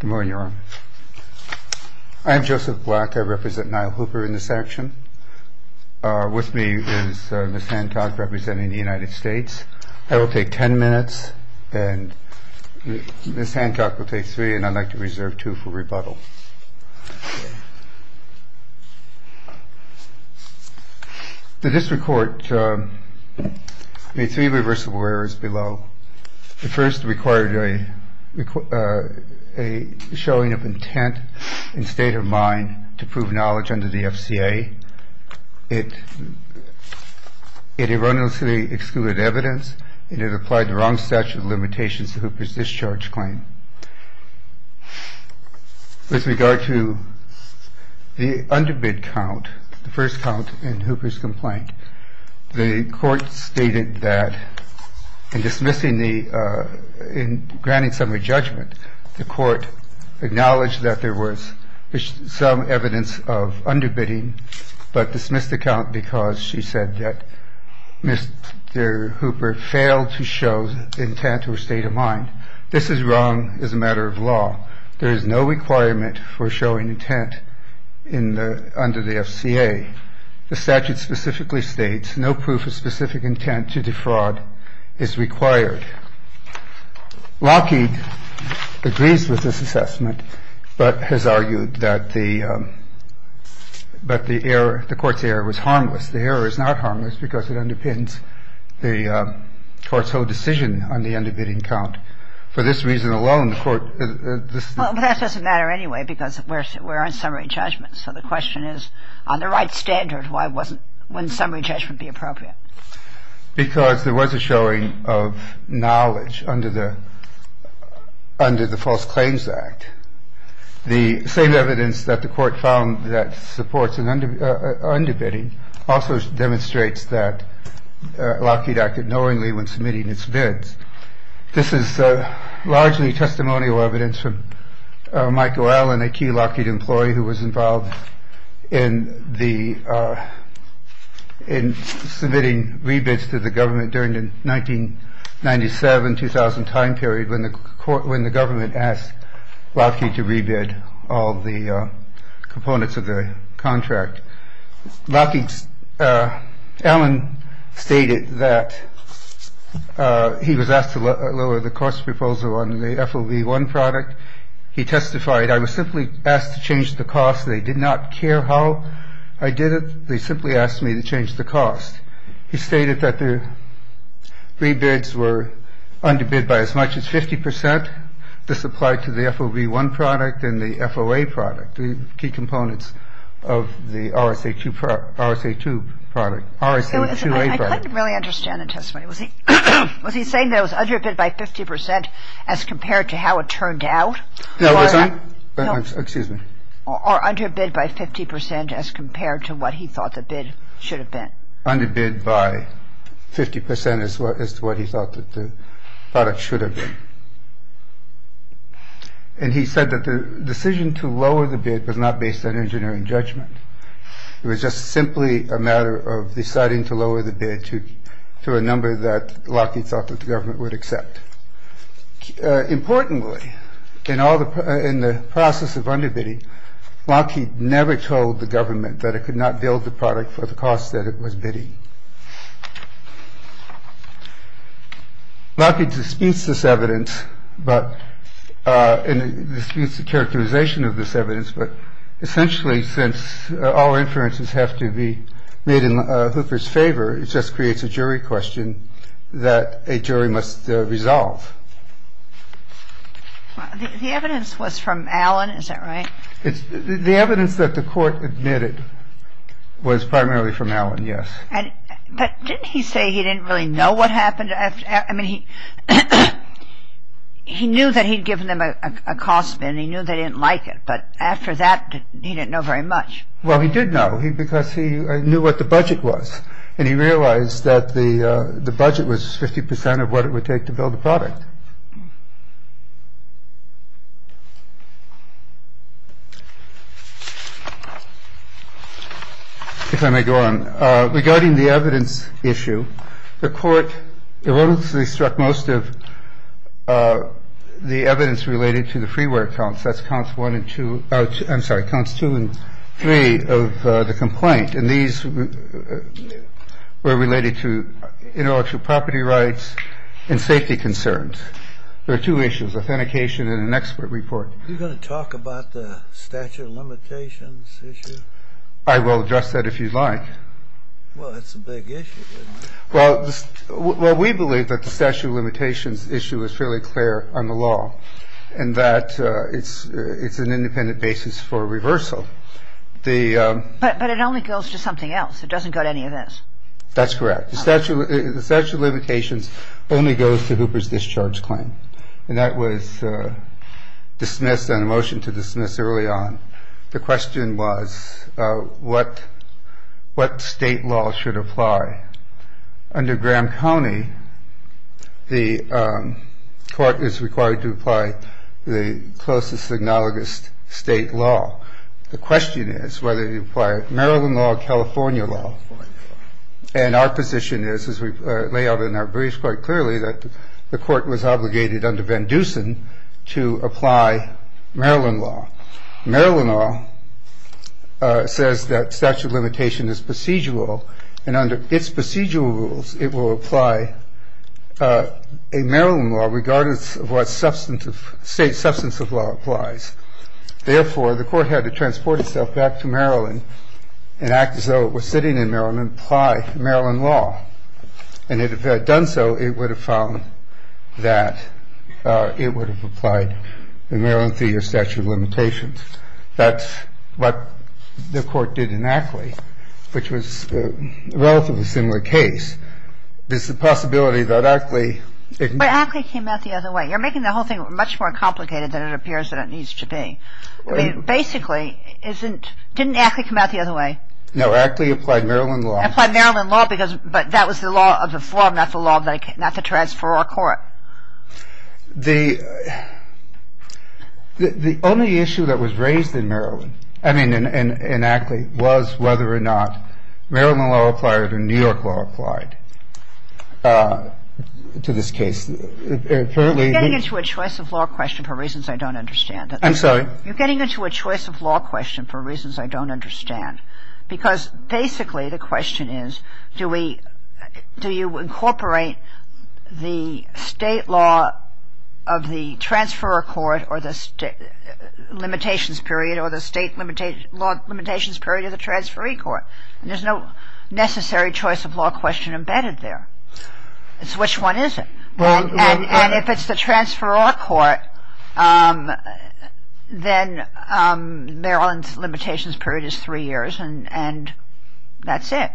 Good morning Your Honor. I am Joseph Black. I represent Nyle Hooper in this action. With me is Ms. Hancock representing the United States. That will take ten minutes and Ms. Hancock will take three and I'd like to reserve two for rebuttal. The district court made three reversible errors below. The first required a showing of intent and state of mind to prove knowledge under the FCA. It erroneously excluded evidence and it applied the wrong statute of limitations to Hooper's discharge claim. With regard to the underbid count, the first count in Hooper's complaint, the court stated that in dismissing the, in granting summary judgment, the court acknowledged that there was some evidence of underbidding but dismissed the count because she said that Mr. Hooper failed to show intent or state of mind. This is wrong as a matter of law. There is no requirement for showing intent in the, under the FCA. The statute specifically states no proof of specific intent to defraud is required. Lockheed agrees with this assessment but has argued that the, that the error, the court's error was harmless. The error is not harmless because it underpins the court's whole decision on the underbidding count. For this reason alone, the court, this. But that doesn't matter anyway because we're on summary judgment. So the question is, on the right standard, why wasn't, wouldn't summary judgment be appropriate? Because there was a showing of knowledge under the, under the False Claims Act. The same evidence that the court found that supports an underbidding also demonstrates that Lockheed acted knowingly when submitting its bids. This is largely testimonial evidence from Michael Allen, a key Lockheed employee who was involved in the, in submitting rebids to the government during the 1997 2000 time period when the court, when the government asked Lockheed to rebid all the components of the contract. Lockheed's Allen stated that he was asked to lower the cost proposal on the FOB one product. He testified I was simply asked to change the cost. They did not care how I did it. They simply asked me to change the cost. He stated that the rebids were underbid by as much as 50 percent. This applied to the FOB one product and the FOA product, the key components of the RSA2 product, RSA2A product. I couldn't really understand the testimony. Was he saying that it was underbid by 50 percent as compared to how it turned out? No, it wasn't. Excuse me. Or underbid by 50 percent as compared to what he thought the bid should have been. Underbid by 50 percent as to what he thought that the product should have been. And he said that the decision to lower the bid was not based on engineering judgment. It was just simply a matter of deciding to lower the bid to a number that Lockheed thought that the government would accept. Importantly, in all the in the process of underbidding, Lockheed never told the government that it could not build the product for the cost that it was bidding. Lockheed disputes this evidence, but disputes the characterization of this evidence. But essentially, since all inferences have to be made in Hooper's favor, it just creates a jury question that a jury must resolve. The evidence was from Allen. Is that right? The evidence that the court admitted was primarily from Allen, yes. But didn't he say he didn't really know what happened? I mean, he knew that he'd given them a cost spin. He knew they didn't like it. But after that, he didn't know very much. Well, he did know. He because he knew what the budget was and he realized that the budget was 50 percent of what it would take to build the product. If I may go on regarding the evidence issue, the court erroneously struck most of the evidence related to the freeware counts. That's counts one and two. I'm sorry, counts two and three of the complaint. And these were related to intellectual property rights and safety concerns. There are two issues, authentication and an expert report. Are you going to talk about the statute of limitations issue? I will address that if you'd like. Well, that's a big issue. Well, we believe that the statute of limitations issue is fairly clear on the law and that it's an independent basis for reversal. But it only goes to something else. It doesn't go to any of this. That's correct. The statute of limitations only goes to Hooper's discharge claim. And that was dismissed and a motion to dismiss early on. The question was what state law should apply. Under Graham County, the court is required to apply the closest analogous state law. The question is whether you apply Maryland law or California law. And our position is, as we lay out in our briefs quite clearly, that the court was obligated under Van Dusen to apply Maryland law. Maryland law says that statute of limitation is procedural and under its procedural rules it will apply a Maryland law regardless of what state substance of law applies. Therefore, the court had to transport itself back to Maryland and act as though it was sitting in Maryland and apply Maryland law. And if it had done so, it would have found that it would have applied the Maryland three-year statute of limitations. And that's what the court did in Ackley, which was a relatively similar case. There's the possibility that Ackley — But Ackley came out the other way. You're making the whole thing much more complicated than it appears that it needs to be. I mean, basically, isn't — didn't Ackley come out the other way? No. Ackley applied Maryland law. Applied Maryland law because — but that was the law of the forum, not the law of the — not the transferor court. The only issue that was raised in Maryland — I mean, in Ackley, was whether or not Maryland law applied or New York law applied to this case. Apparently — You're getting into a choice of law question for reasons I don't understand. I'm sorry? You're getting into a choice of law question for reasons I don't understand. Because, basically, the question is, do we — do you incorporate the state law of the transferor court or the limitations period or the state limitations period or the transferee court? And there's no necessary choice of law question embedded there. It's which one is it. And if it's the transferor court, then Maryland's limitations period is three years. And that's it.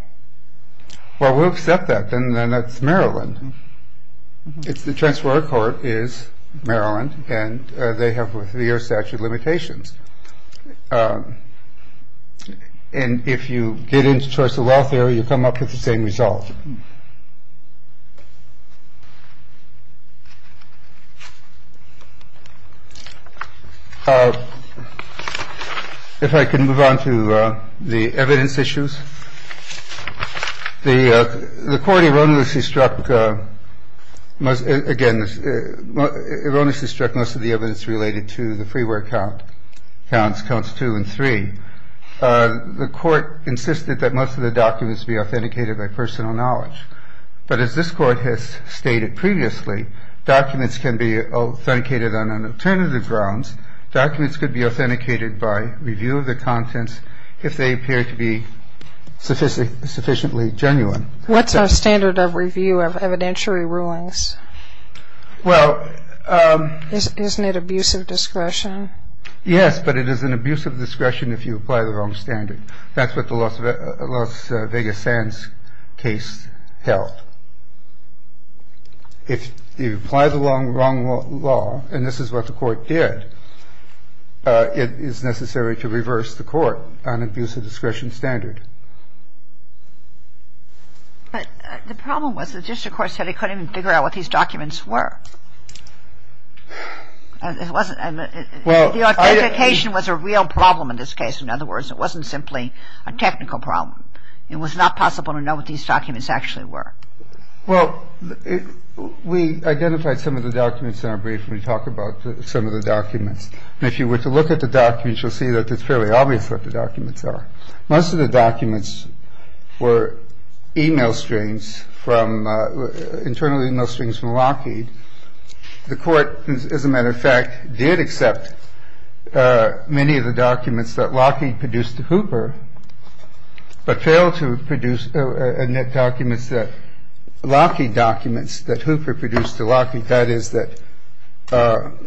Well, we'll accept that, then. Then it's Maryland. If the transferor court is Maryland and they have three-year statute of limitations. And if you get into choice of law theory, you come up with the same result. If I can move on to the evidence issues, the court erroneously struck — again, erroneously struck most of the evidence related to the freeware count. The court insisted that most of the documents be authenticated by personal knowledge. But as this Court has stated previously, documents can be authenticated on alternative grounds. Documents could be authenticated by review of the contents if they appear to be sufficiently genuine. What's our standard of review of evidentiary rulings? Well — Isn't it abusive discretion? Yes, but it is an abusive discretion if you apply the wrong standard. That's what the Las Vegas Sands case held. If you apply the wrong law, and this is what the Court did, it is necessary to reverse the Court on abusive discretion standard. But the problem was the district court said it couldn't even figure out what these documents were. It wasn't — Well — The authentication was a real problem in this case. In other words, it wasn't simply a technical problem. It was not possible to know what these documents actually were. Well, we identified some of the documents in our brief when we talk about some of the documents. And if you were to look at the documents, you'll see that it's fairly obvious what the documents are. Most of the documents were e-mail strings from — internally e-mail strings from Lockheed. The Court, as a matter of fact, did accept many of the documents that Lockheed produced to Hooper, but failed to produce documents that — Lockheed documents that Hooper produced to Lockheed, that is, that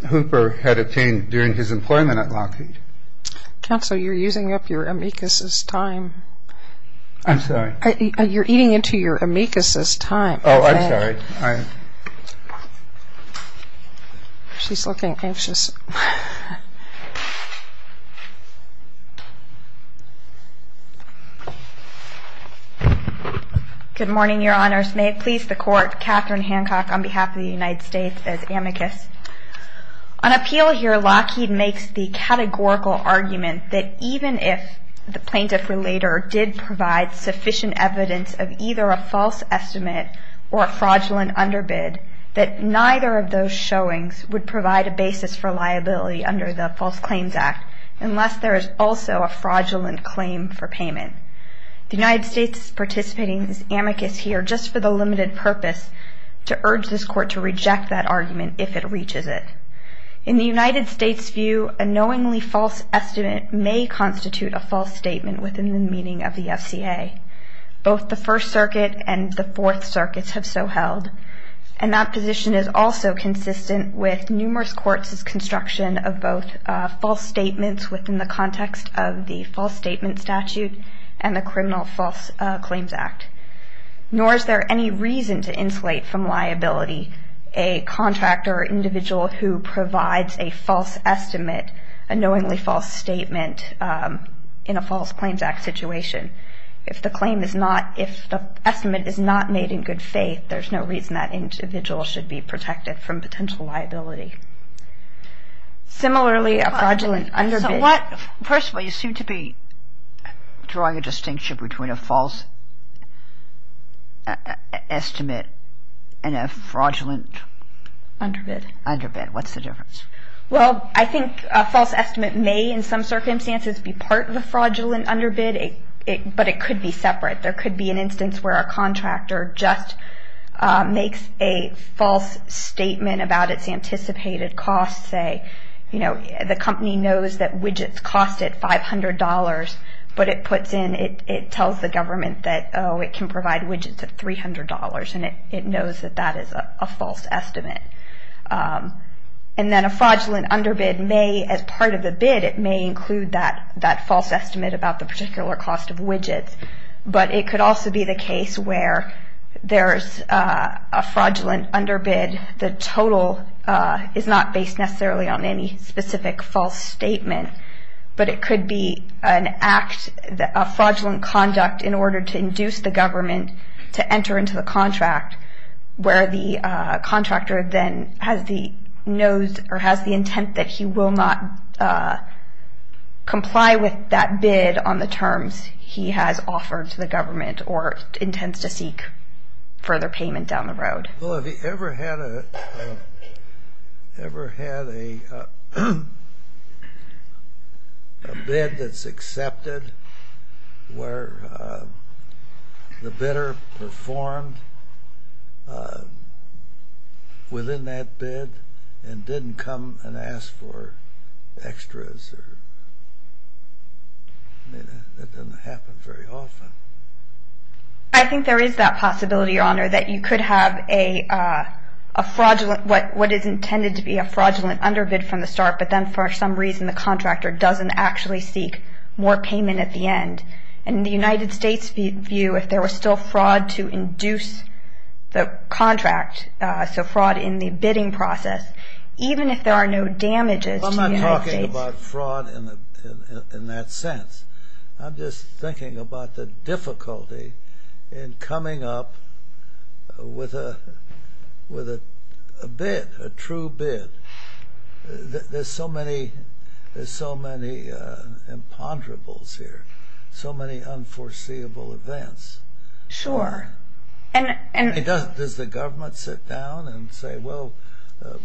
Hooper had obtained during his employment at Lockheed. Counsel, you're using up your amicus's time. I'm sorry? You're eating into your amicus's time. Oh, I'm sorry. I — She's looking anxious. Good morning, Your Honors. May it please the Court, Katherine Hancock on behalf of the United States as amicus. On appeal here, Lockheed makes the categorical argument that even if the plaintiff or later did provide sufficient evidence of either a false estimate or a fraudulent underbid, that neither of those showings would provide a basis for liability under the False Claims Act unless there is also a fraudulent claim for payment. The United States is participating in this amicus here just for the limited purpose to urge this Court to reject that argument if it reaches it. In the United States' view, a knowingly false estimate may constitute a false statement within the meaning of the FCA. Both the First Circuit and the Fourth Circuits have so held, and that position is also consistent with numerous courts' construction of both false statements within the context of the False Statement Statute and the Criminal False Claims Act. Nor is there any reason to insulate from liability a contractor or individual who provides a false estimate, a knowingly false statement in a False Claims Act situation. If the claim is not, if the estimate is not made in good faith, there's no reason that individual should be protected from potential liability. Similarly, a fraudulent underbid... First of all, you seem to be drawing a distinction between a false estimate and a fraudulent... Underbid. Underbid. What's the difference? Well, I think a false estimate may in some circumstances be part of a fraudulent underbid, but it could be separate. There could be an instance where a contractor just makes a false statement about its anticipated costs, say, you know, the company knows that widgets cost it $500, but it puts in, it tells the government that, oh, it can provide widgets at $300, and it knows that that is a false estimate. And then a fraudulent underbid may, as part of the bid, it may include that false estimate about the particular cost of widgets, but it could also be the case where there's a fraudulent underbid, the total is not based necessarily on any specific false statement, but it could be an act, a fraudulent conduct in order to induce the government to enter into the contract, where the contractor then has the intent that he will not comply with that bid on the terms he has offered to the government or intends to seek further payment down the road. Well, have you ever had a bid that's accepted where the bidder performed within that bid and didn't come and ask for extras? That doesn't happen very often. I think there is that possibility, Your Honor, that you could have a fraudulent, what is intended to be a fraudulent underbid from the start, but then for some reason the contractor doesn't actually seek more payment at the end. In the United States' view, if there was still fraud to induce the contract, so fraud in the bidding process, even if there are no damages to the United States... I'm not talking about fraud in that sense. I'm just thinking about the difficulty in coming up with a bid, a true bid. There's so many imponderables here, so many unforeseeable events. Sure. Does the government sit down and say, well,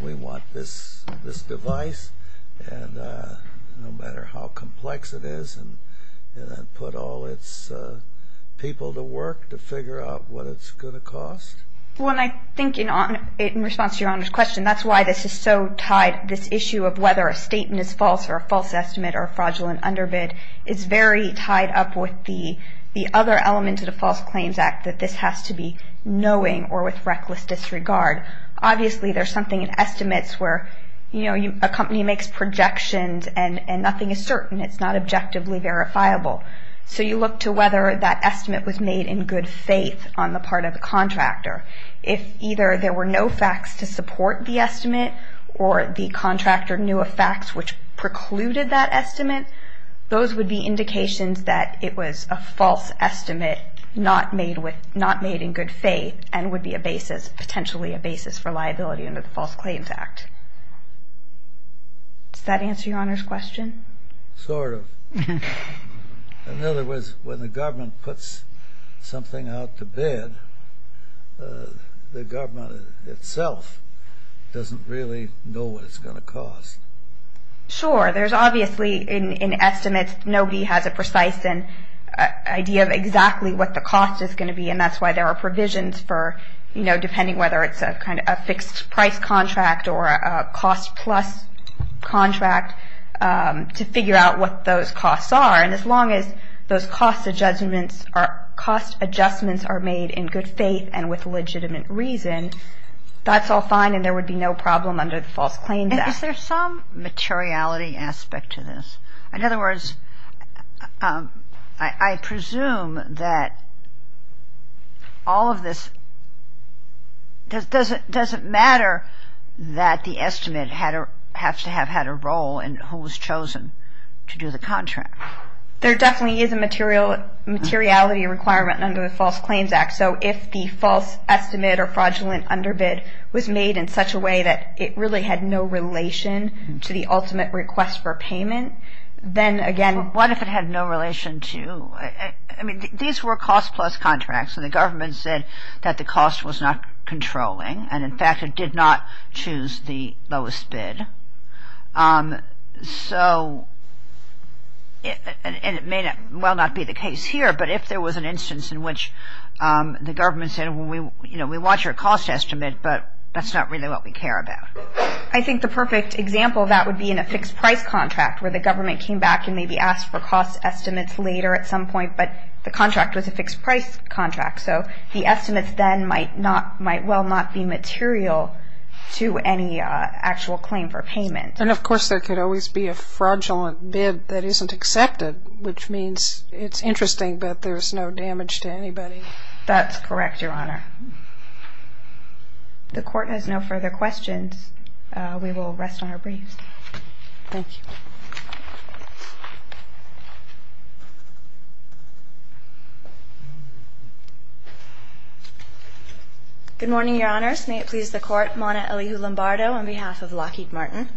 we want this device, no matter how complex it is, and put all its people to work to figure out what it's going to cost? Well, I think in response to Your Honor's question, that's why this is so tied. This issue of whether a statement is false or a false estimate or a fraudulent underbid is very tied up with the other element of the False Claims Act, that this has to be knowing or with reckless disregard. Obviously, there's something in estimates where a company makes projections and nothing is certain. It's not objectively verifiable. So you look to whether that estimate was made in good faith on the part of the contractor. If either there were no facts to support the estimate or the contractor knew of facts which precluded that estimate, those would be indications that it was a false estimate not made in good faith and would be a basis, potentially a basis, for liability under the False Claims Act. Does that answer Your Honor's question? Sort of. In other words, when the government puts something out to bid, the government itself doesn't really know what it's going to cost. Sure. There's obviously in estimates nobody has a precise idea of exactly what the cost is going to be, and that's why there are provisions for, you know, depending whether it's a fixed-price contract or a cost-plus contract, to figure out what those costs are. And as long as those cost adjustments are made in good faith and with legitimate reason, that's all fine and there would be no problem under the False Claims Act. Is there some materiality aspect to this? In other words, I presume that all of this, does it matter that the estimate has to have had a role in who was chosen to do the contract? There definitely is a materiality requirement under the False Claims Act. So if the false estimate or fraudulent underbid was made in such a way that it really had no relation to the ultimate request for payment, then again. What if it had no relation to, I mean, these were cost-plus contracts and the government said that the cost was not controlling, and in fact it did not choose the lowest bid. So, and it may well not be the case here, but if there was an instance in which the government said, well, you know, we want your cost estimate, but that's not really what we care about. I think the perfect example of that would be in a fixed-price contract where the government came back and maybe asked for cost estimates later at some point, but the contract was a fixed-price contract. So the estimates then might not, might well not be material to any actual claim for payment. And of course there could always be a fraudulent bid that isn't accepted, which means it's interesting, but there's no damage to anybody. That's correct, Your Honor. The Court has no further questions. We will rest on our briefs. Thank you. Good morning, Your Honors. May it please the Court. Mona Elihu-Lombardo on behalf of Lockheed Martin.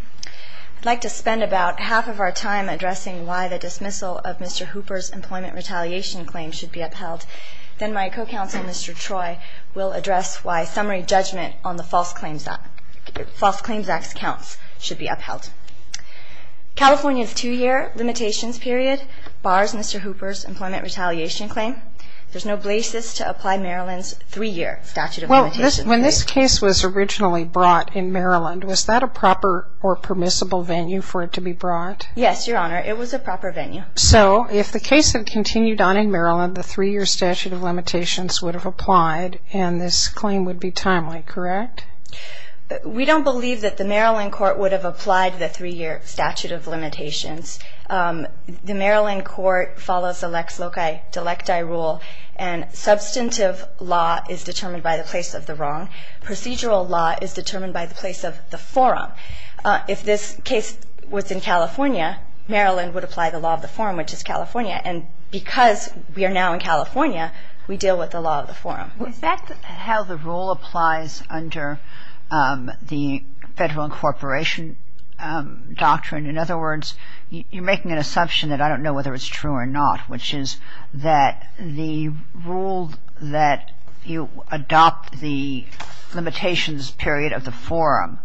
I'd like to spend about half of our time addressing why the dismissal of Mr. Hooper's employment retaliation claim should be upheld. Then my co-counsel, Mr. Troy, will address why summary judgment on the False Claims Act's counts should be upheld. California's two-year limitations period bars Mr. Hooper's employment retaliation claim. There's no basis to apply Maryland's three-year statute of limitations. Well, when this case was originally brought in Maryland, was that a proper or permissible venue for it to be brought? Yes, Your Honor. It was a proper venue. So if the case had continued on in Maryland, the three-year statute of limitations would have applied, and this claim would be timely, correct? We don't believe that the Maryland court would have applied the three-year statute of limitations. The Maryland court follows the Lex Loci Delecti rule, and substantive law is determined by the place of the wrong. Procedural law is determined by the place of the forum. If this case was in California, Maryland would apply the law of the forum, which is California, and because we are now in California, we deal with the law of the forum. Is that how the rule applies under the federal incorporation doctrine? In other words, you're making an assumption that I don't know whether it's true or not, which is that the rule that you adopt the limitations period of the forum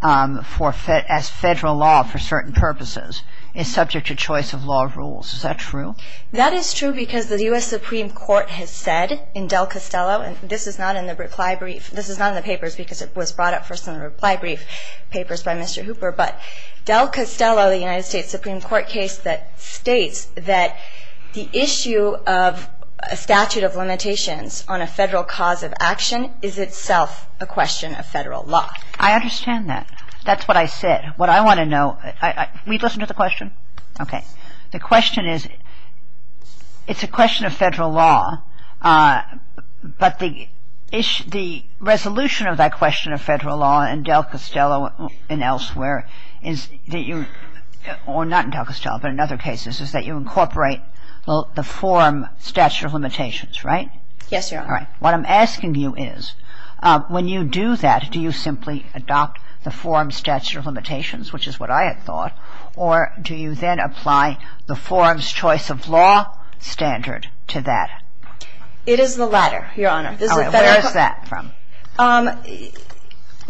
as federal law for certain purposes is subject to choice of law rules. Is that true? That is true because the U.S. Supreme Court has said in Del Castello, and this is not in the reply brief. This is not in the papers because it was brought up first in the reply brief papers by Mr. Hooper, but Del Castello, the United States Supreme Court case that states that the issue of a statute of limitations on a federal cause of action is itself a question of federal law. I understand that. That's what I said. What I want to know, can we listen to the question? Okay. The question is, it's a question of federal law, but the resolution of that question of federal law in Del Castello and elsewhere, or not in Del Castello but in other cases, is that you incorporate the forum statute of limitations, right? Yes, Your Honor. All right. What I'm asking you is, when you do that, do you simply adopt the forum statute of limitations, which is what I had thought, or do you then apply the forum's choice of law standard to that? It is the latter, Your Honor. All right. Where is that from?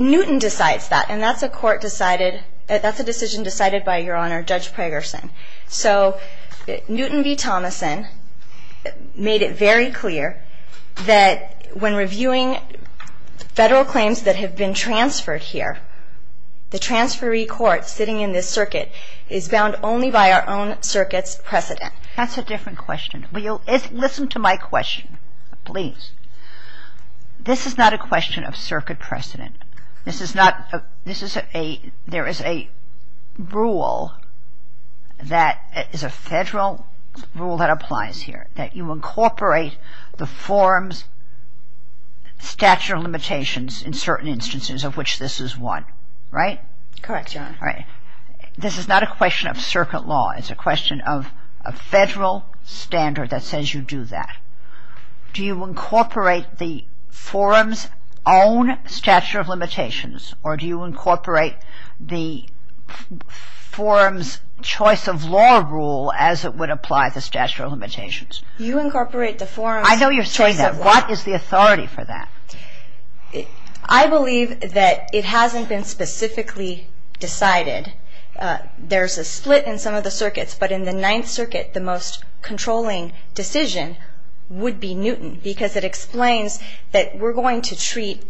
Newton decides that, and that's a decision decided by, Your Honor, Judge Pragerson. So Newton v. Thomason made it very clear that when reviewing federal claims that have been transferred here, the transferee court sitting in this circuit is bound only by our own circuit's precedent. That's a different question. Will you listen to my question, please? This is not a question of circuit precedent. This is not, this is a, there is a rule that is a federal rule that applies here, that you incorporate the forum's statute of limitations in certain instances of which this is one, right? Correct, Your Honor. All right. This is not a question of circuit law. It's a question of a federal standard that says you do that. Do you incorporate the forum's own statute of limitations, or do you incorporate the forum's choice of law rule as it would apply the statute of limitations? You incorporate the forum's choice of law. I know you're saying that. What is the authority for that? I believe that it hasn't been specifically decided. There's a split in some of the circuits, but in the Ninth Circuit, the most controlling decision would be Newton, because it explains that we're going to treat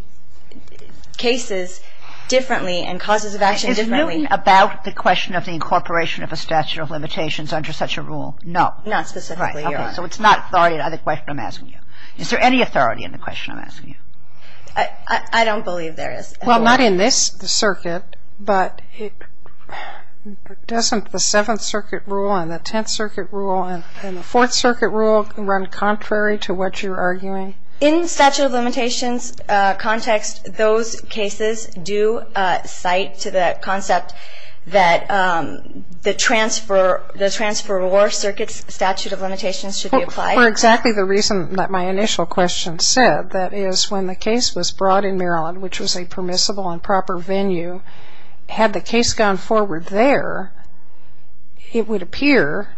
cases differently and causes of action differently. Is Newton about the question of the incorporation of a statute of limitations under such a rule? Not specifically, Your Honor. Right. Okay. So it's not the authority of the question I'm asking you. Is there any authority in the question I'm asking you? I don't believe there is. Well, not in this circuit, but doesn't the Seventh Circuit rule and the Tenth Circuit rule and the Fourth Circuit rule run contrary to what you're arguing? In statute of limitations context, those cases do cite to the concept that the transferor circuit's statute of limitations should be applied. Well, for exactly the reason that my initial question said, that is when the case was brought in Maryland, which was a permissible and proper venue, had the case gone forward there, it would appear,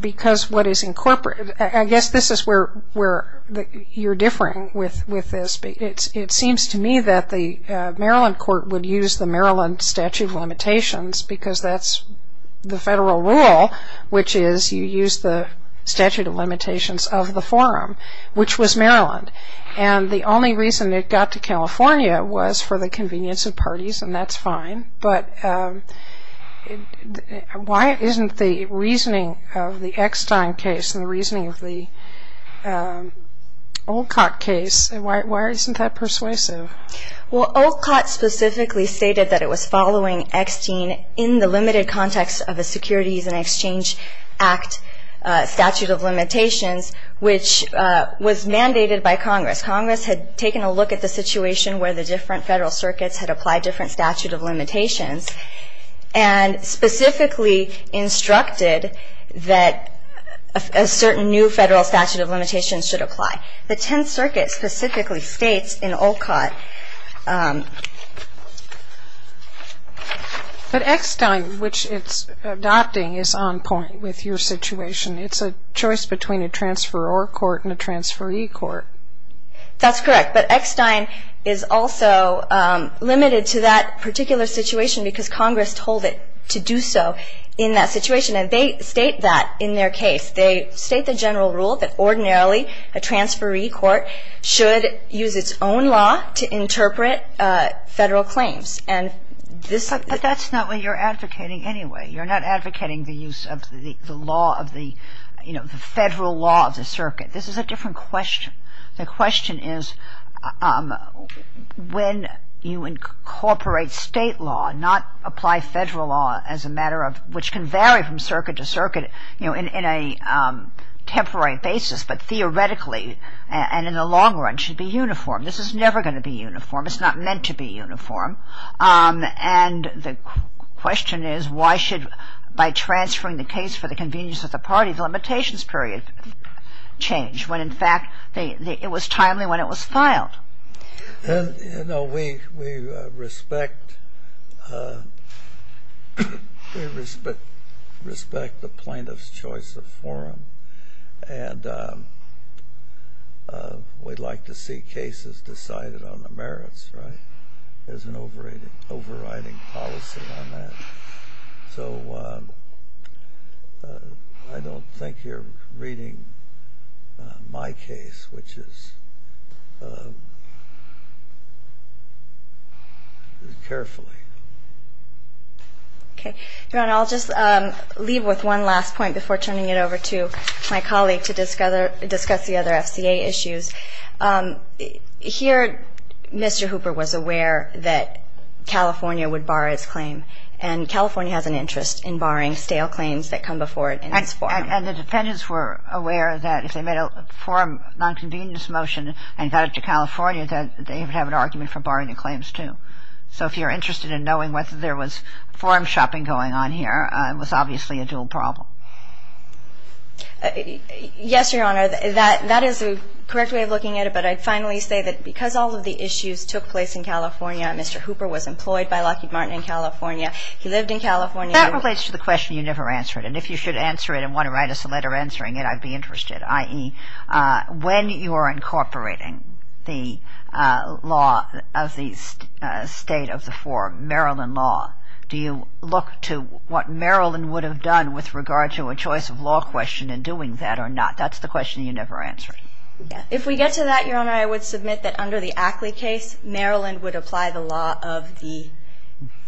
because what is incorporated, I guess this is where you're differing with this, but it seems to me that the Maryland court would use the Maryland statute of limitations, because that's the federal rule, which is you use the statute of limitations of the forum, which was Maryland. And the only reason it got to California was for the convenience of parties, and that's fine. But why isn't the reasoning of the Eckstein case and the reasoning of the Olcott case, why isn't that persuasive? Well, Olcott specifically stated that it was following Eckstein in the limited context of the Securities and Exchange Act statute of limitations, which was mandated by Congress. Congress had taken a look at the situation where the different federal circuits had applied different statute of limitations and specifically instructed that a certain new federal statute of limitations should apply. The Tenth Circuit specifically states in Olcott. But Eckstein, which it's adopting, is on point with your situation. It's a choice between a transferor court and a transferee court. That's correct. But Eckstein is also limited to that particular situation because Congress told it to do so in that situation. And they state that in their case. They state the general rule that ordinarily a transferee court should use its own law to interpret federal claims. But that's not what you're advocating anyway. You're not advocating the use of the federal law of the circuit. This is a different question. The question is when you incorporate state law, not apply federal law, which can vary from circuit to circuit in a temporary basis, but theoretically and in the long run should be uniform. This is never going to be uniform. It's not meant to be uniform. And the question is why should, by transferring the case for the convenience of the party, the limitations period change, when in fact it was timely when it was filed? You know, we respect the plaintiff's choice of forum. And we'd like to see cases decided on the merits, right? There's an overriding policy on that. So I don't think you're reading my case, which is carefully. Okay. Ron, I'll just leave with one last point before turning it over to my colleague to discuss the other FCA issues. Here, Mr. Hooper was aware that California would bar its claim. And California has an interest in barring stale claims that come before it in its forum. And the defendants were aware that if they made a forum nonconvenience motion and got it to California, that they would have an argument for barring the claims too. So if you're interested in knowing whether there was forum shopping going on here, it was obviously a dual problem. Yes, Your Honor. That is the correct way of looking at it. But I'd finally say that because all of the issues took place in California, Mr. Hooper was employed by Lockheed Martin in California. He lived in California. That relates to the question you never answered. And if you should answer it and want to write us a letter answering it, I'd be interested, i.e., when you are incorporating the law of the state of the forum, Maryland law, do you look to what Maryland would have done with regard to a choice of law question and doing that or not? That's the question you never answered. If we get to that, Your Honor, I would submit that under the Ackley case, Maryland would apply the law of the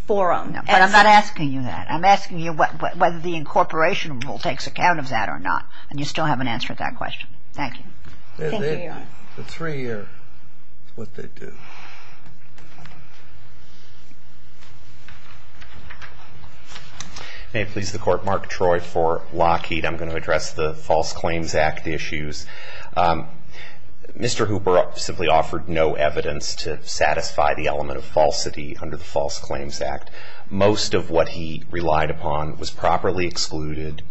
forum. But I'm not asking you that. I'm asking you whether the incorporation rule takes account of that or not. And you still haven't answered that question. Thank you. Thank you, Your Honor. The three are what they do. May it please the Court, Mark Troy for Lockheed. I'm going to address the False Claims Act issues. Mr. Hooper simply offered no evidence to satisfy the element of falsity under the False Claims Act. Most of what he relied upon was properly excluded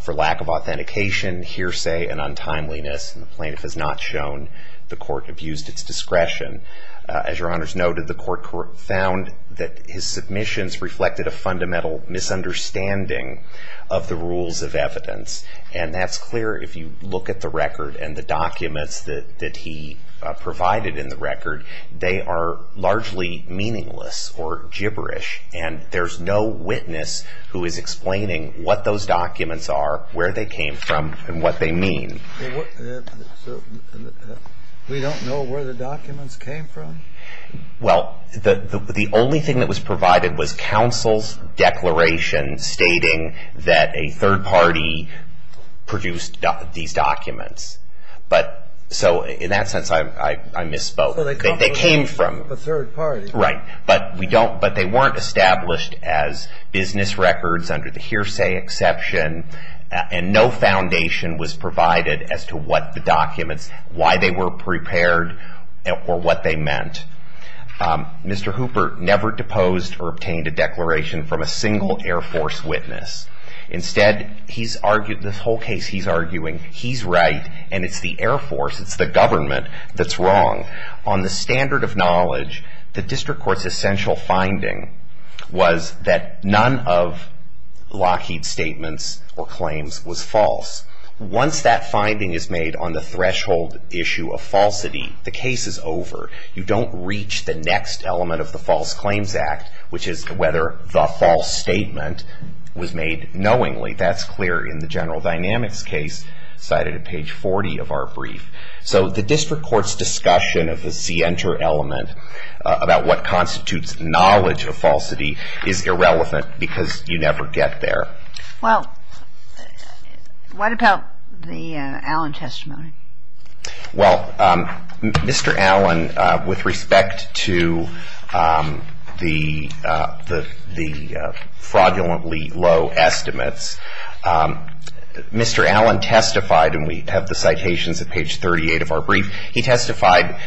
for lack of authentication, hearsay, and untimeliness. And the plaintiff has not shown the Court abused its discretion. As Your Honor has noted, the Court found that his submissions reflected a fundamental misunderstanding of the rules of evidence. And that's clear if you look at the record and the documents that he provided in the record. They are largely meaningless or gibberish. And there's no witness who is explaining what those documents are, where they came from, and what they mean. We don't know where the documents came from? Well, the only thing that was provided was counsel's declaration stating that a third party produced these documents. So in that sense, I misspoke. They came from a third party. Right. But they weren't established as business records under the hearsay exception, and no foundation was provided as to what the documents, why they were prepared, or what they meant. Mr. Hooper never deposed or obtained a declaration from a single Air Force witness. Instead, this whole case he's arguing, he's right, and it's the Air Force, it's the government, that's wrong. On the standard of knowledge, the district court's essential finding was that none of Lockheed's statements or claims was false. Once that finding is made on the threshold issue of falsity, the case is over. You don't reach the next element of the False Claims Act, which is whether the false statement was made knowingly. That's clear in the general dynamics case cited at page 40 of our brief. So the district court's discussion of the see, enter element, about what constitutes knowledge of falsity, is irrelevant because you never get there. Well, what about the Allen testimony? Well, Mr. Allen, with respect to the fraudulently low estimates, Mr. Allen testified, and we have the citations at page 38 of our brief, he testified,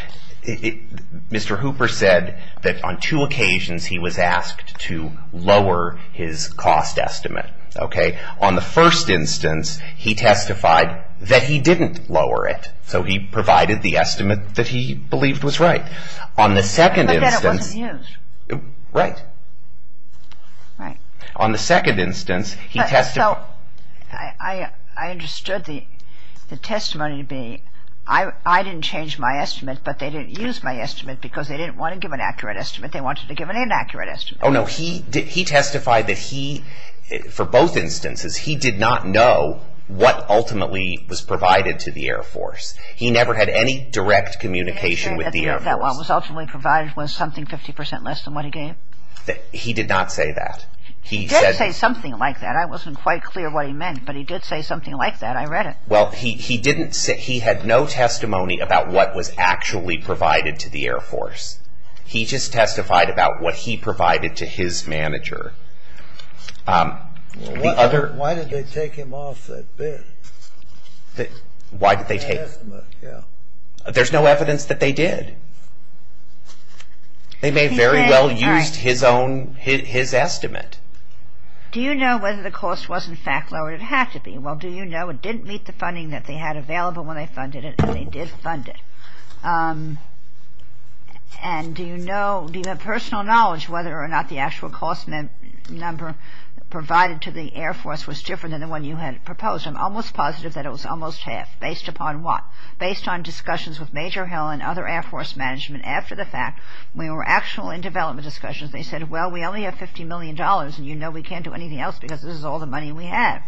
Mr. Hooper said that on two occasions he was asked to lower his cost estimate. Okay? On the first instance, he testified that he didn't lower it, so he provided the estimate that he believed was right. On the second instance... But then it wasn't used. Right. Right. On the second instance, he testified... So I understood the testimony to be, I didn't change my estimate, but they didn't use my estimate because they didn't want to give an accurate estimate. They wanted to give an inaccurate estimate. Oh, no, he testified that he, for both instances, he did not know what ultimately was provided to the Air Force. He never had any direct communication with the Air Force. The estimate that was ultimately provided was something 50% less than what he gave. He did not say that. He did say something like that. I wasn't quite clear what he meant, but he did say something like that. I read it. Well, he didn't say, he had no testimony about what was actually provided to the Air Force. He just testified about what he provided to his manager. Why did they take him off that bid? Why did they take... The estimate, yeah. There's no evidence that they did. They may very well have used his own, his estimate. Do you know whether the cost was, in fact, lower than it had to be? Well, do you know it didn't meet the funding that they had available when they funded it, and they did fund it? And do you know, do you have personal knowledge whether or not the actual cost number provided to the Air Force was different than the one you had proposed? I'm almost positive that it was almost half. Based upon what? The Air Force management, after the fact, when we were actually in development discussions, they said, well, we only have $50 million, and you know we can't do anything else because this is all the money we have.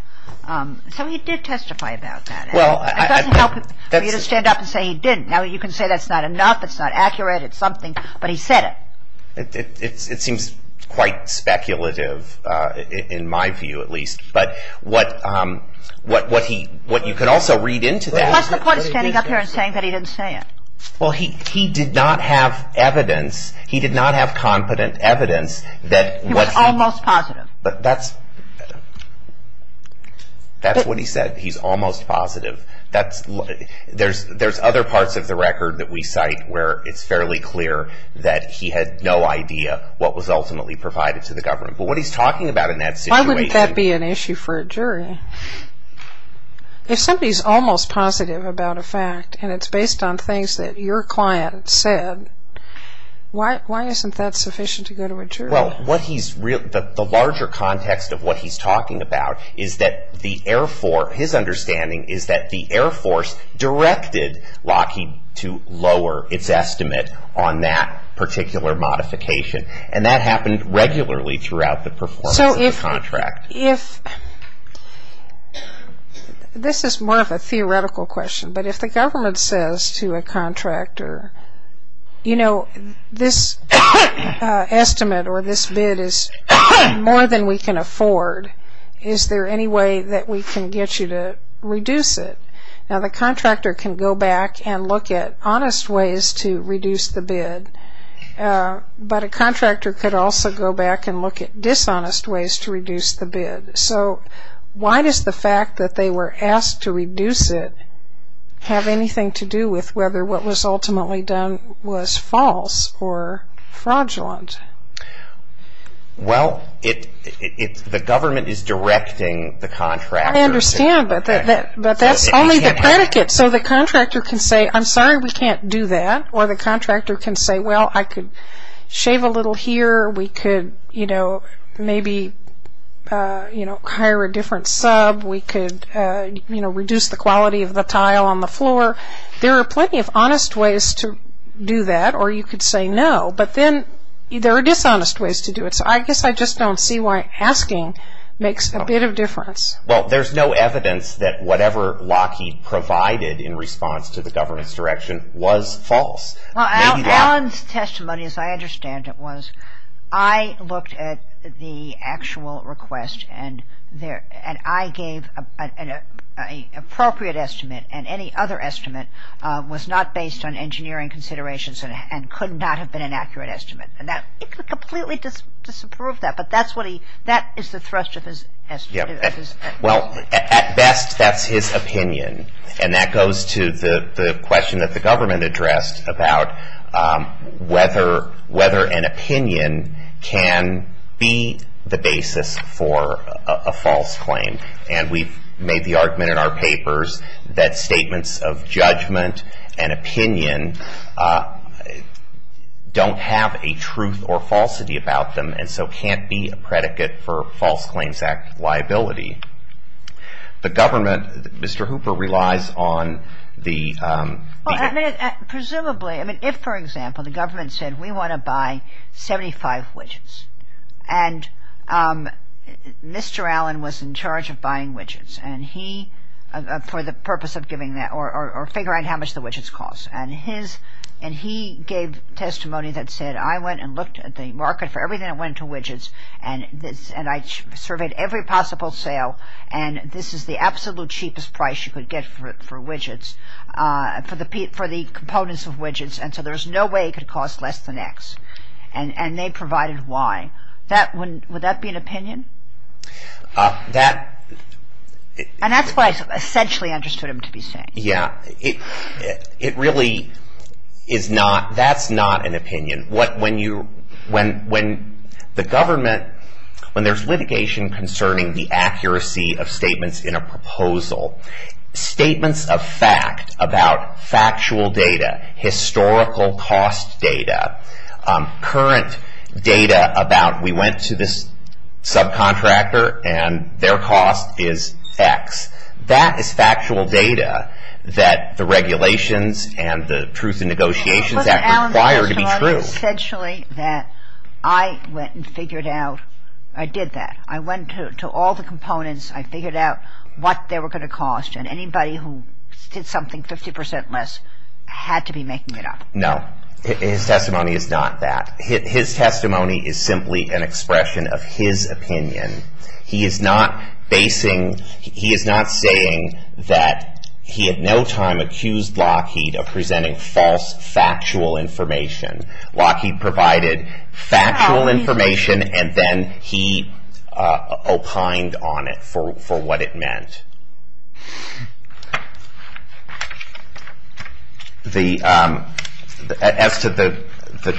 So he did testify about that. It doesn't help for you to stand up and say he didn't. Now, you can say that's not enough, it's not accurate, it's something, but he said it. It seems quite speculative, in my view at least. But what you could also read into that... What's the point of standing up here and saying that he didn't say it? Well, he did not have evidence, he did not have confident evidence that... He was almost positive. That's what he said, he's almost positive. There's other parts of the record that we cite where it's fairly clear that he had no idea what was ultimately provided to the government. But what he's talking about in that situation... Why wouldn't that be an issue for a jury? If somebody's almost positive about a fact and it's based on things that your client said, why isn't that sufficient to go to a jury? Well, the larger context of what he's talking about is that the Air Force, his understanding is that the Air Force directed Lockheed to lower its estimate on that particular modification. And that happened regularly throughout the performance of the contract. This is more of a theoretical question, but if the government says to a contractor, you know, this estimate or this bid is more than we can afford, is there any way that we can get you to reduce it? Now, the contractor can go back and look at honest ways to reduce the bid, but a contractor could also go back and look at dishonest ways to reduce the bid. So why does the fact that they were asked to reduce it have anything to do with whether what was ultimately done was false or fraudulent? Well, if the government is directing the contractor... I understand, but that's only the predicate. So the contractor can say, I'm sorry, we can't do that. Or the contractor can say, well, I could shave a little here. We could, you know, maybe, you know, hire a different sub. We could, you know, reduce the quality of the tile on the floor. There are plenty of honest ways to do that, or you could say no, but then there are dishonest ways to do it. So I guess I just don't see why asking makes a bit of difference. Well, there's no evidence that whatever Lockheed provided in response to the government's direction was false. Well, Alan's testimony, as I understand it, was I looked at the actual request, and I gave an appropriate estimate, and any other estimate was not based on engineering considerations and could not have been an accurate estimate. It could completely disapprove that, but that is the thrust of his estimate. Well, at best, that's his opinion, and that goes to the question that the government addressed about whether an opinion can be the basis for a false claim. And we've made the argument in our papers that statements of judgment and opinion don't have a truth or falsity about them, and so can't be a predicate for False Claims Act liability. The government, Mr. Hooper, relies on the- Presumably, I mean, if, for example, the government said we want to buy 75 widgets, and Mr. Alan was in charge of buying widgets, and he, for the purpose of giving that, or figuring out how much the widgets cost, and he gave testimony that said, I went and looked at the market for everything that went to widgets, and I surveyed every possible sale, and this is the absolute cheapest price you could get for widgets, for the components of widgets, and so there's no way it could cost less than X, and they provided Y. Would that be an opinion? And that's what I essentially understood him to be saying. Yeah, it really is not, that's not an opinion. When you, when the government, when there's litigation concerning the accuracy of statements in a proposal, statements of fact about factual data, historical cost data, current data about we went to this subcontractor, and their cost is X. That is factual data that the regulations and the Truth in Negotiations Act require to be true. But Mr. Alan gave testimony essentially that I went and figured out, I did that. I went to all the components, I figured out what they were going to cost, and anybody who did something 50% less had to be making it up. No, his testimony is not that. His testimony is simply an expression of his opinion. He is not basing, he is not saying that he at no time accused Lockheed of presenting false factual information. Lockheed provided factual information, and then he opined on it for what it meant. As to the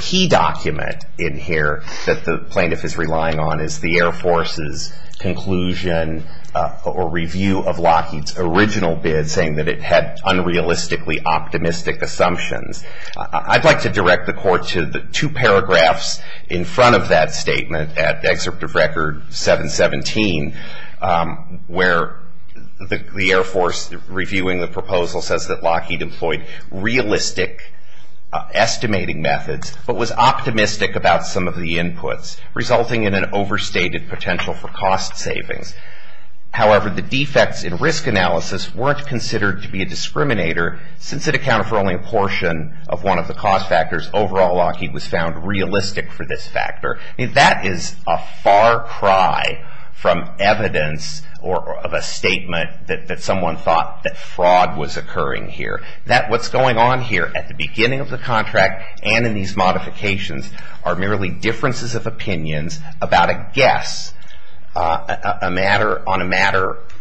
key document in here that the plaintiff is relying on is the Air Force's conclusion or review of Lockheed's original bid, saying that it had unrealistically optimistic assumptions. I'd like to direct the Court to the two paragraphs in front of that statement at Excerpt of Record 717, where the Air Force, reviewing the proposal, says that Lockheed employed realistic estimating methods, but was optimistic about some of the inputs, resulting in an overstated potential for cost savings. However, the defects in risk analysis weren't considered to be a discriminator, since it accounted for only a portion of one of the cost factors. Overall, Lockheed was found realistic for this factor. That is a far cry from evidence of a statement that someone thought that fraud was occurring here. What's going on here at the beginning of the contract and in these modifications are merely differences of opinions about a guess on a matter of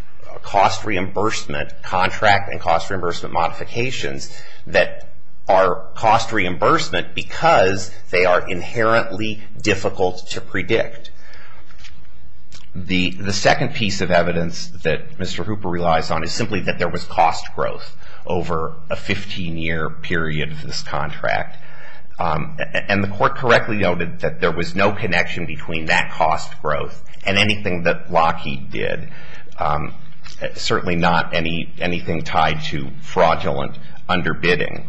cost reimbursement contract and cost reimbursement modifications that are cost reimbursement because they are inherently difficult to predict. The second piece of evidence that Mr. Hooper relies on is simply that there was cost growth over a 15-year period of this contract, and the Court correctly noted that there was no connection between that cost growth and anything that Lockheed did, certainly not anything tied to fraudulent underbidding.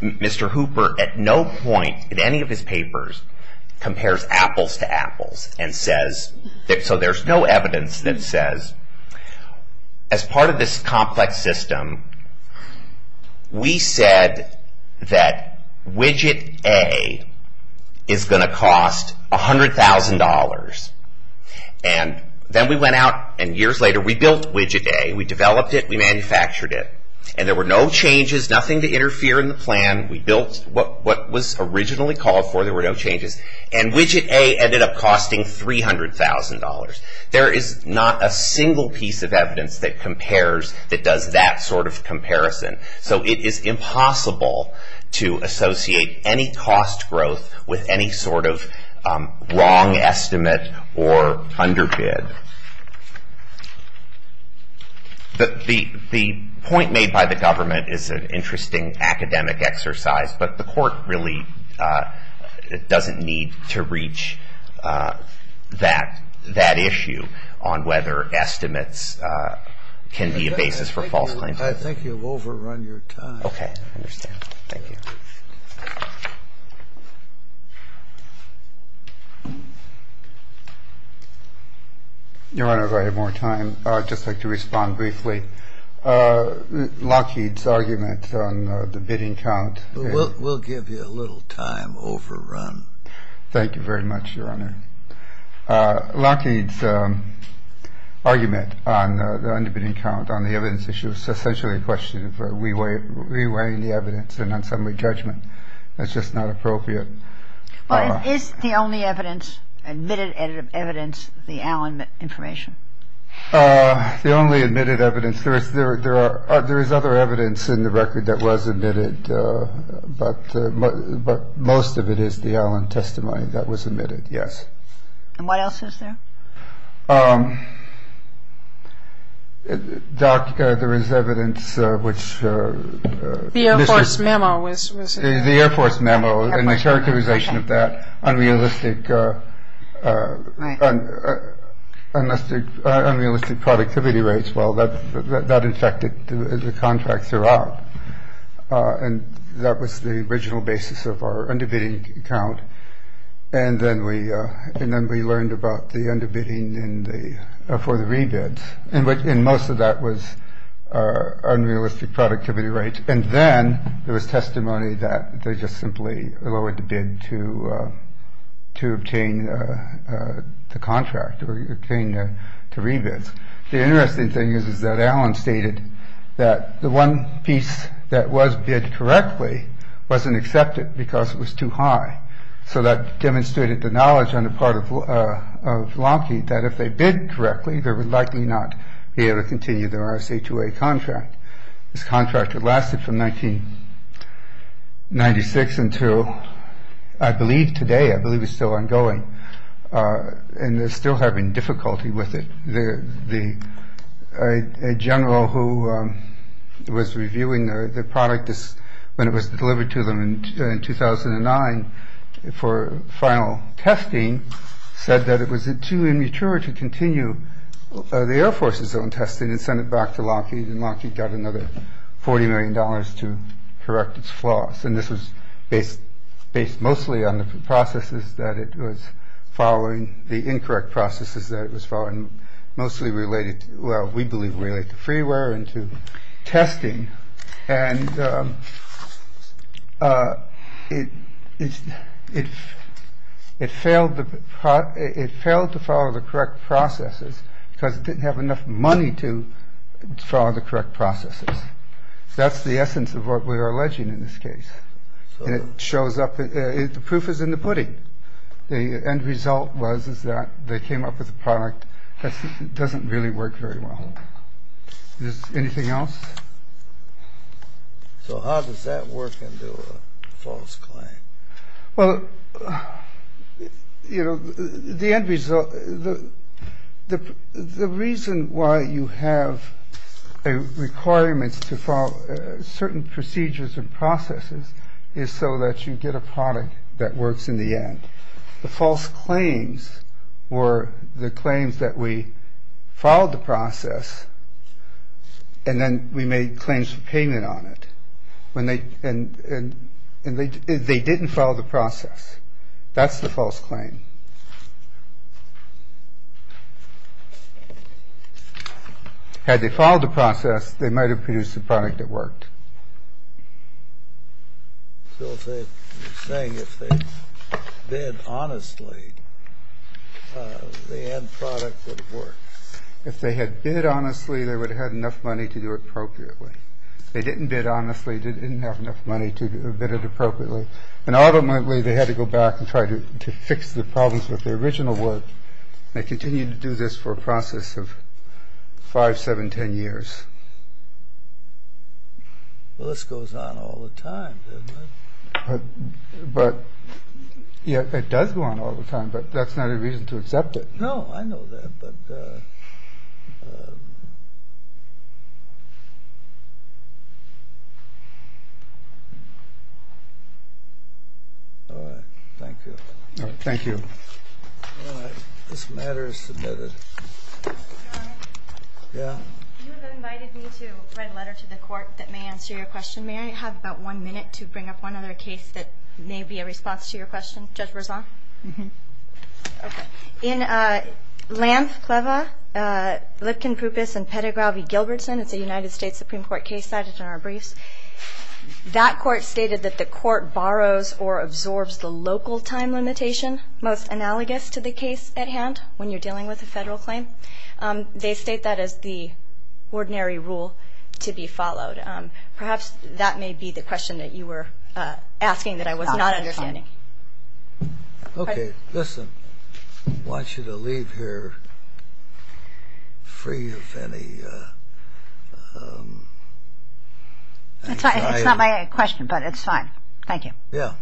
Mr. Hooper at no point in any of his papers compares apples to apples, so there's no evidence that says As part of this complex system, we said that widget A is going to cost $100,000. Then we went out and years later we built widget A. We developed it, we manufactured it, and there were no changes, nothing to interfere in the plan. We built what was originally called for, there were no changes, and widget A ended up costing $300,000. There is not a single piece of evidence that compares, that does that sort of comparison, so it is impossible to associate any cost growth with any sort of wrong estimate or underbid. The point made by the government is an interesting academic exercise, but the Court really doesn't need to reach that issue on whether estimates can be a basis for false claims. I think you've overrun your time. Okay, I understand. Thank you. Your Honor, if I have more time, I'd just like to respond briefly. Lockheed's argument on the bidding count. We'll give you a little time overrun. Thank you very much, Your Honor. Lockheed's argument on the underbidding count, on the evidence issue, is essentially a question of re-weighing the evidence and on summary judgment. That's just not appropriate. Is the only evidence, admitted evidence, the Allen information? The only admitted evidence, there is other evidence in the record that was admitted, but most of it is the Allen testimony that was admitted, yes. And what else is there? Doc, there is evidence which... The Air Force memo was... The Air Force memo and the characterization of that, unrealistic productivity rates. Well, that affected the contracts throughout. And that was the original basis of our underbidding count. And then we learned about the underbidding for the rebids. And most of that was unrealistic productivity rates. And then there was testimony that they just simply lowered the bid to obtain the contract, or obtain the rebids. The interesting thing is, is that Allen stated that the one piece that was bid correctly wasn't accepted because it was too high. So that demonstrated the knowledge on the part of Lockheed that if they bid correctly, they would likely not be able to continue their RSA-2A contract. This contract had lasted from 1996 until, I believe, today. I believe it's still ongoing. And they're still having difficulty with it. The general who was reviewing the product when it was delivered to them in 2009 for final testing said that it was too immature to continue the Air Force's own testing and send it back to Lockheed. And Lockheed got another 40 million dollars to correct its flaws. And this was based based mostly on the processes that it was following, the incorrect processes that it was following, mostly related. Well, we believe we like the freeware and to testing. And it is if it failed, it failed to follow the correct processes because it didn't have enough money to follow the correct processes. That's the essence of what we are alleging in this case. And it shows up. The proof is in the pudding. The end result was is that they came up with a product that doesn't really work very well. Anything else? So how does that work into a false claim? Well, you know, the end result. The reason why you have requirements to follow certain procedures and processes is so that you get a product that works in the end. The false claims were the claims that we followed the process. And then we made claims for payment on it. When they and they didn't follow the process, that's the false claim. Had they followed the process, they might have produced a product that worked. So they're saying if they did honestly, the end product would work. If they had been it honestly, they would have had enough money to do it appropriately. They didn't bid honestly, didn't have enough money to bid it appropriately. And ultimately, they had to go back and try to fix the problems with the original work. They continued to do this for a process of 5, 7, 10 years. Well, this goes on all the time, doesn't it? But yeah, it does go on all the time. But that's not a reason to accept it. No, I know that. But all right. Thank you. All right. Thank you. All right. This matter is submitted. Your Honor? Yeah. You have invited me to write a letter to the court that may answer your question. May I have about one minute to bring up one other case that may be a response to your question? Judge Berzon? Mm-hmm. Okay. In Lampf, Cleva, Lipkin, Prupis, and Pettigraw v. Gilbertson, it's a United States Supreme Court case cited in our briefs, that court stated that the court borrows or absorbs the local time limitation, most analogous to the case at hand when you're dealing with a federal claim. They state that as the ordinary rule to be followed. Perhaps that may be the question that you were asking that I was not understanding. Okay. Listen, I want you to leave here free of any anxiety. It's not my question, but it's fine. Thank you. Yeah.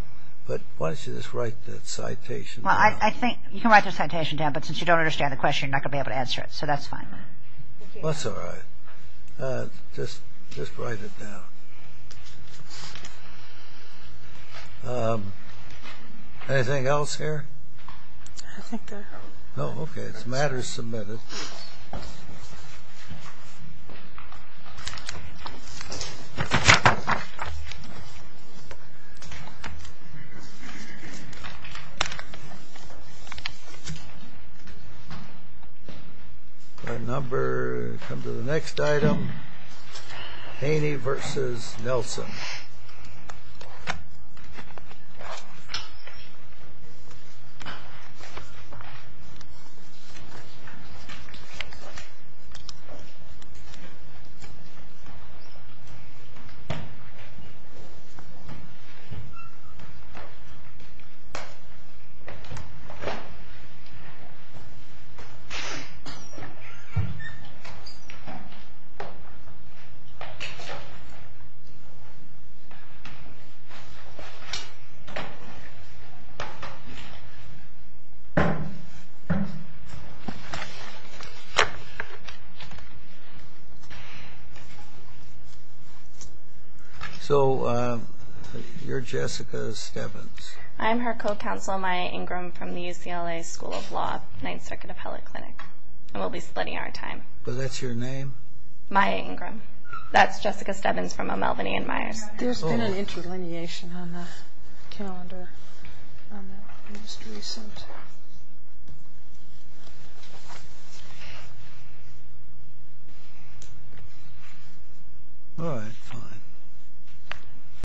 But why don't you just write that citation down? Well, I think you can write the citation down, but since you don't understand the question, you're not going to be able to answer it. So that's fine. Well, that's all right. Just write it down. Okay. Anything else here? I think that's all. Oh, okay. It's matters submitted. Thank you. Thank you. Thank you. Thank you. Thank you. Thank you. Thank you. So you're Jessica Stebbins. I am her co-counsel, Maya Ingram, from the UCLA School of Law, Ninth Circuit Appellate Clinic. And we'll be splitting our time. So that's your name? Maya Ingram. That's Jessica Stebbins from O'Melveny & Myers. There's been an interlineation on the calendar on the most recent. All right. Fine.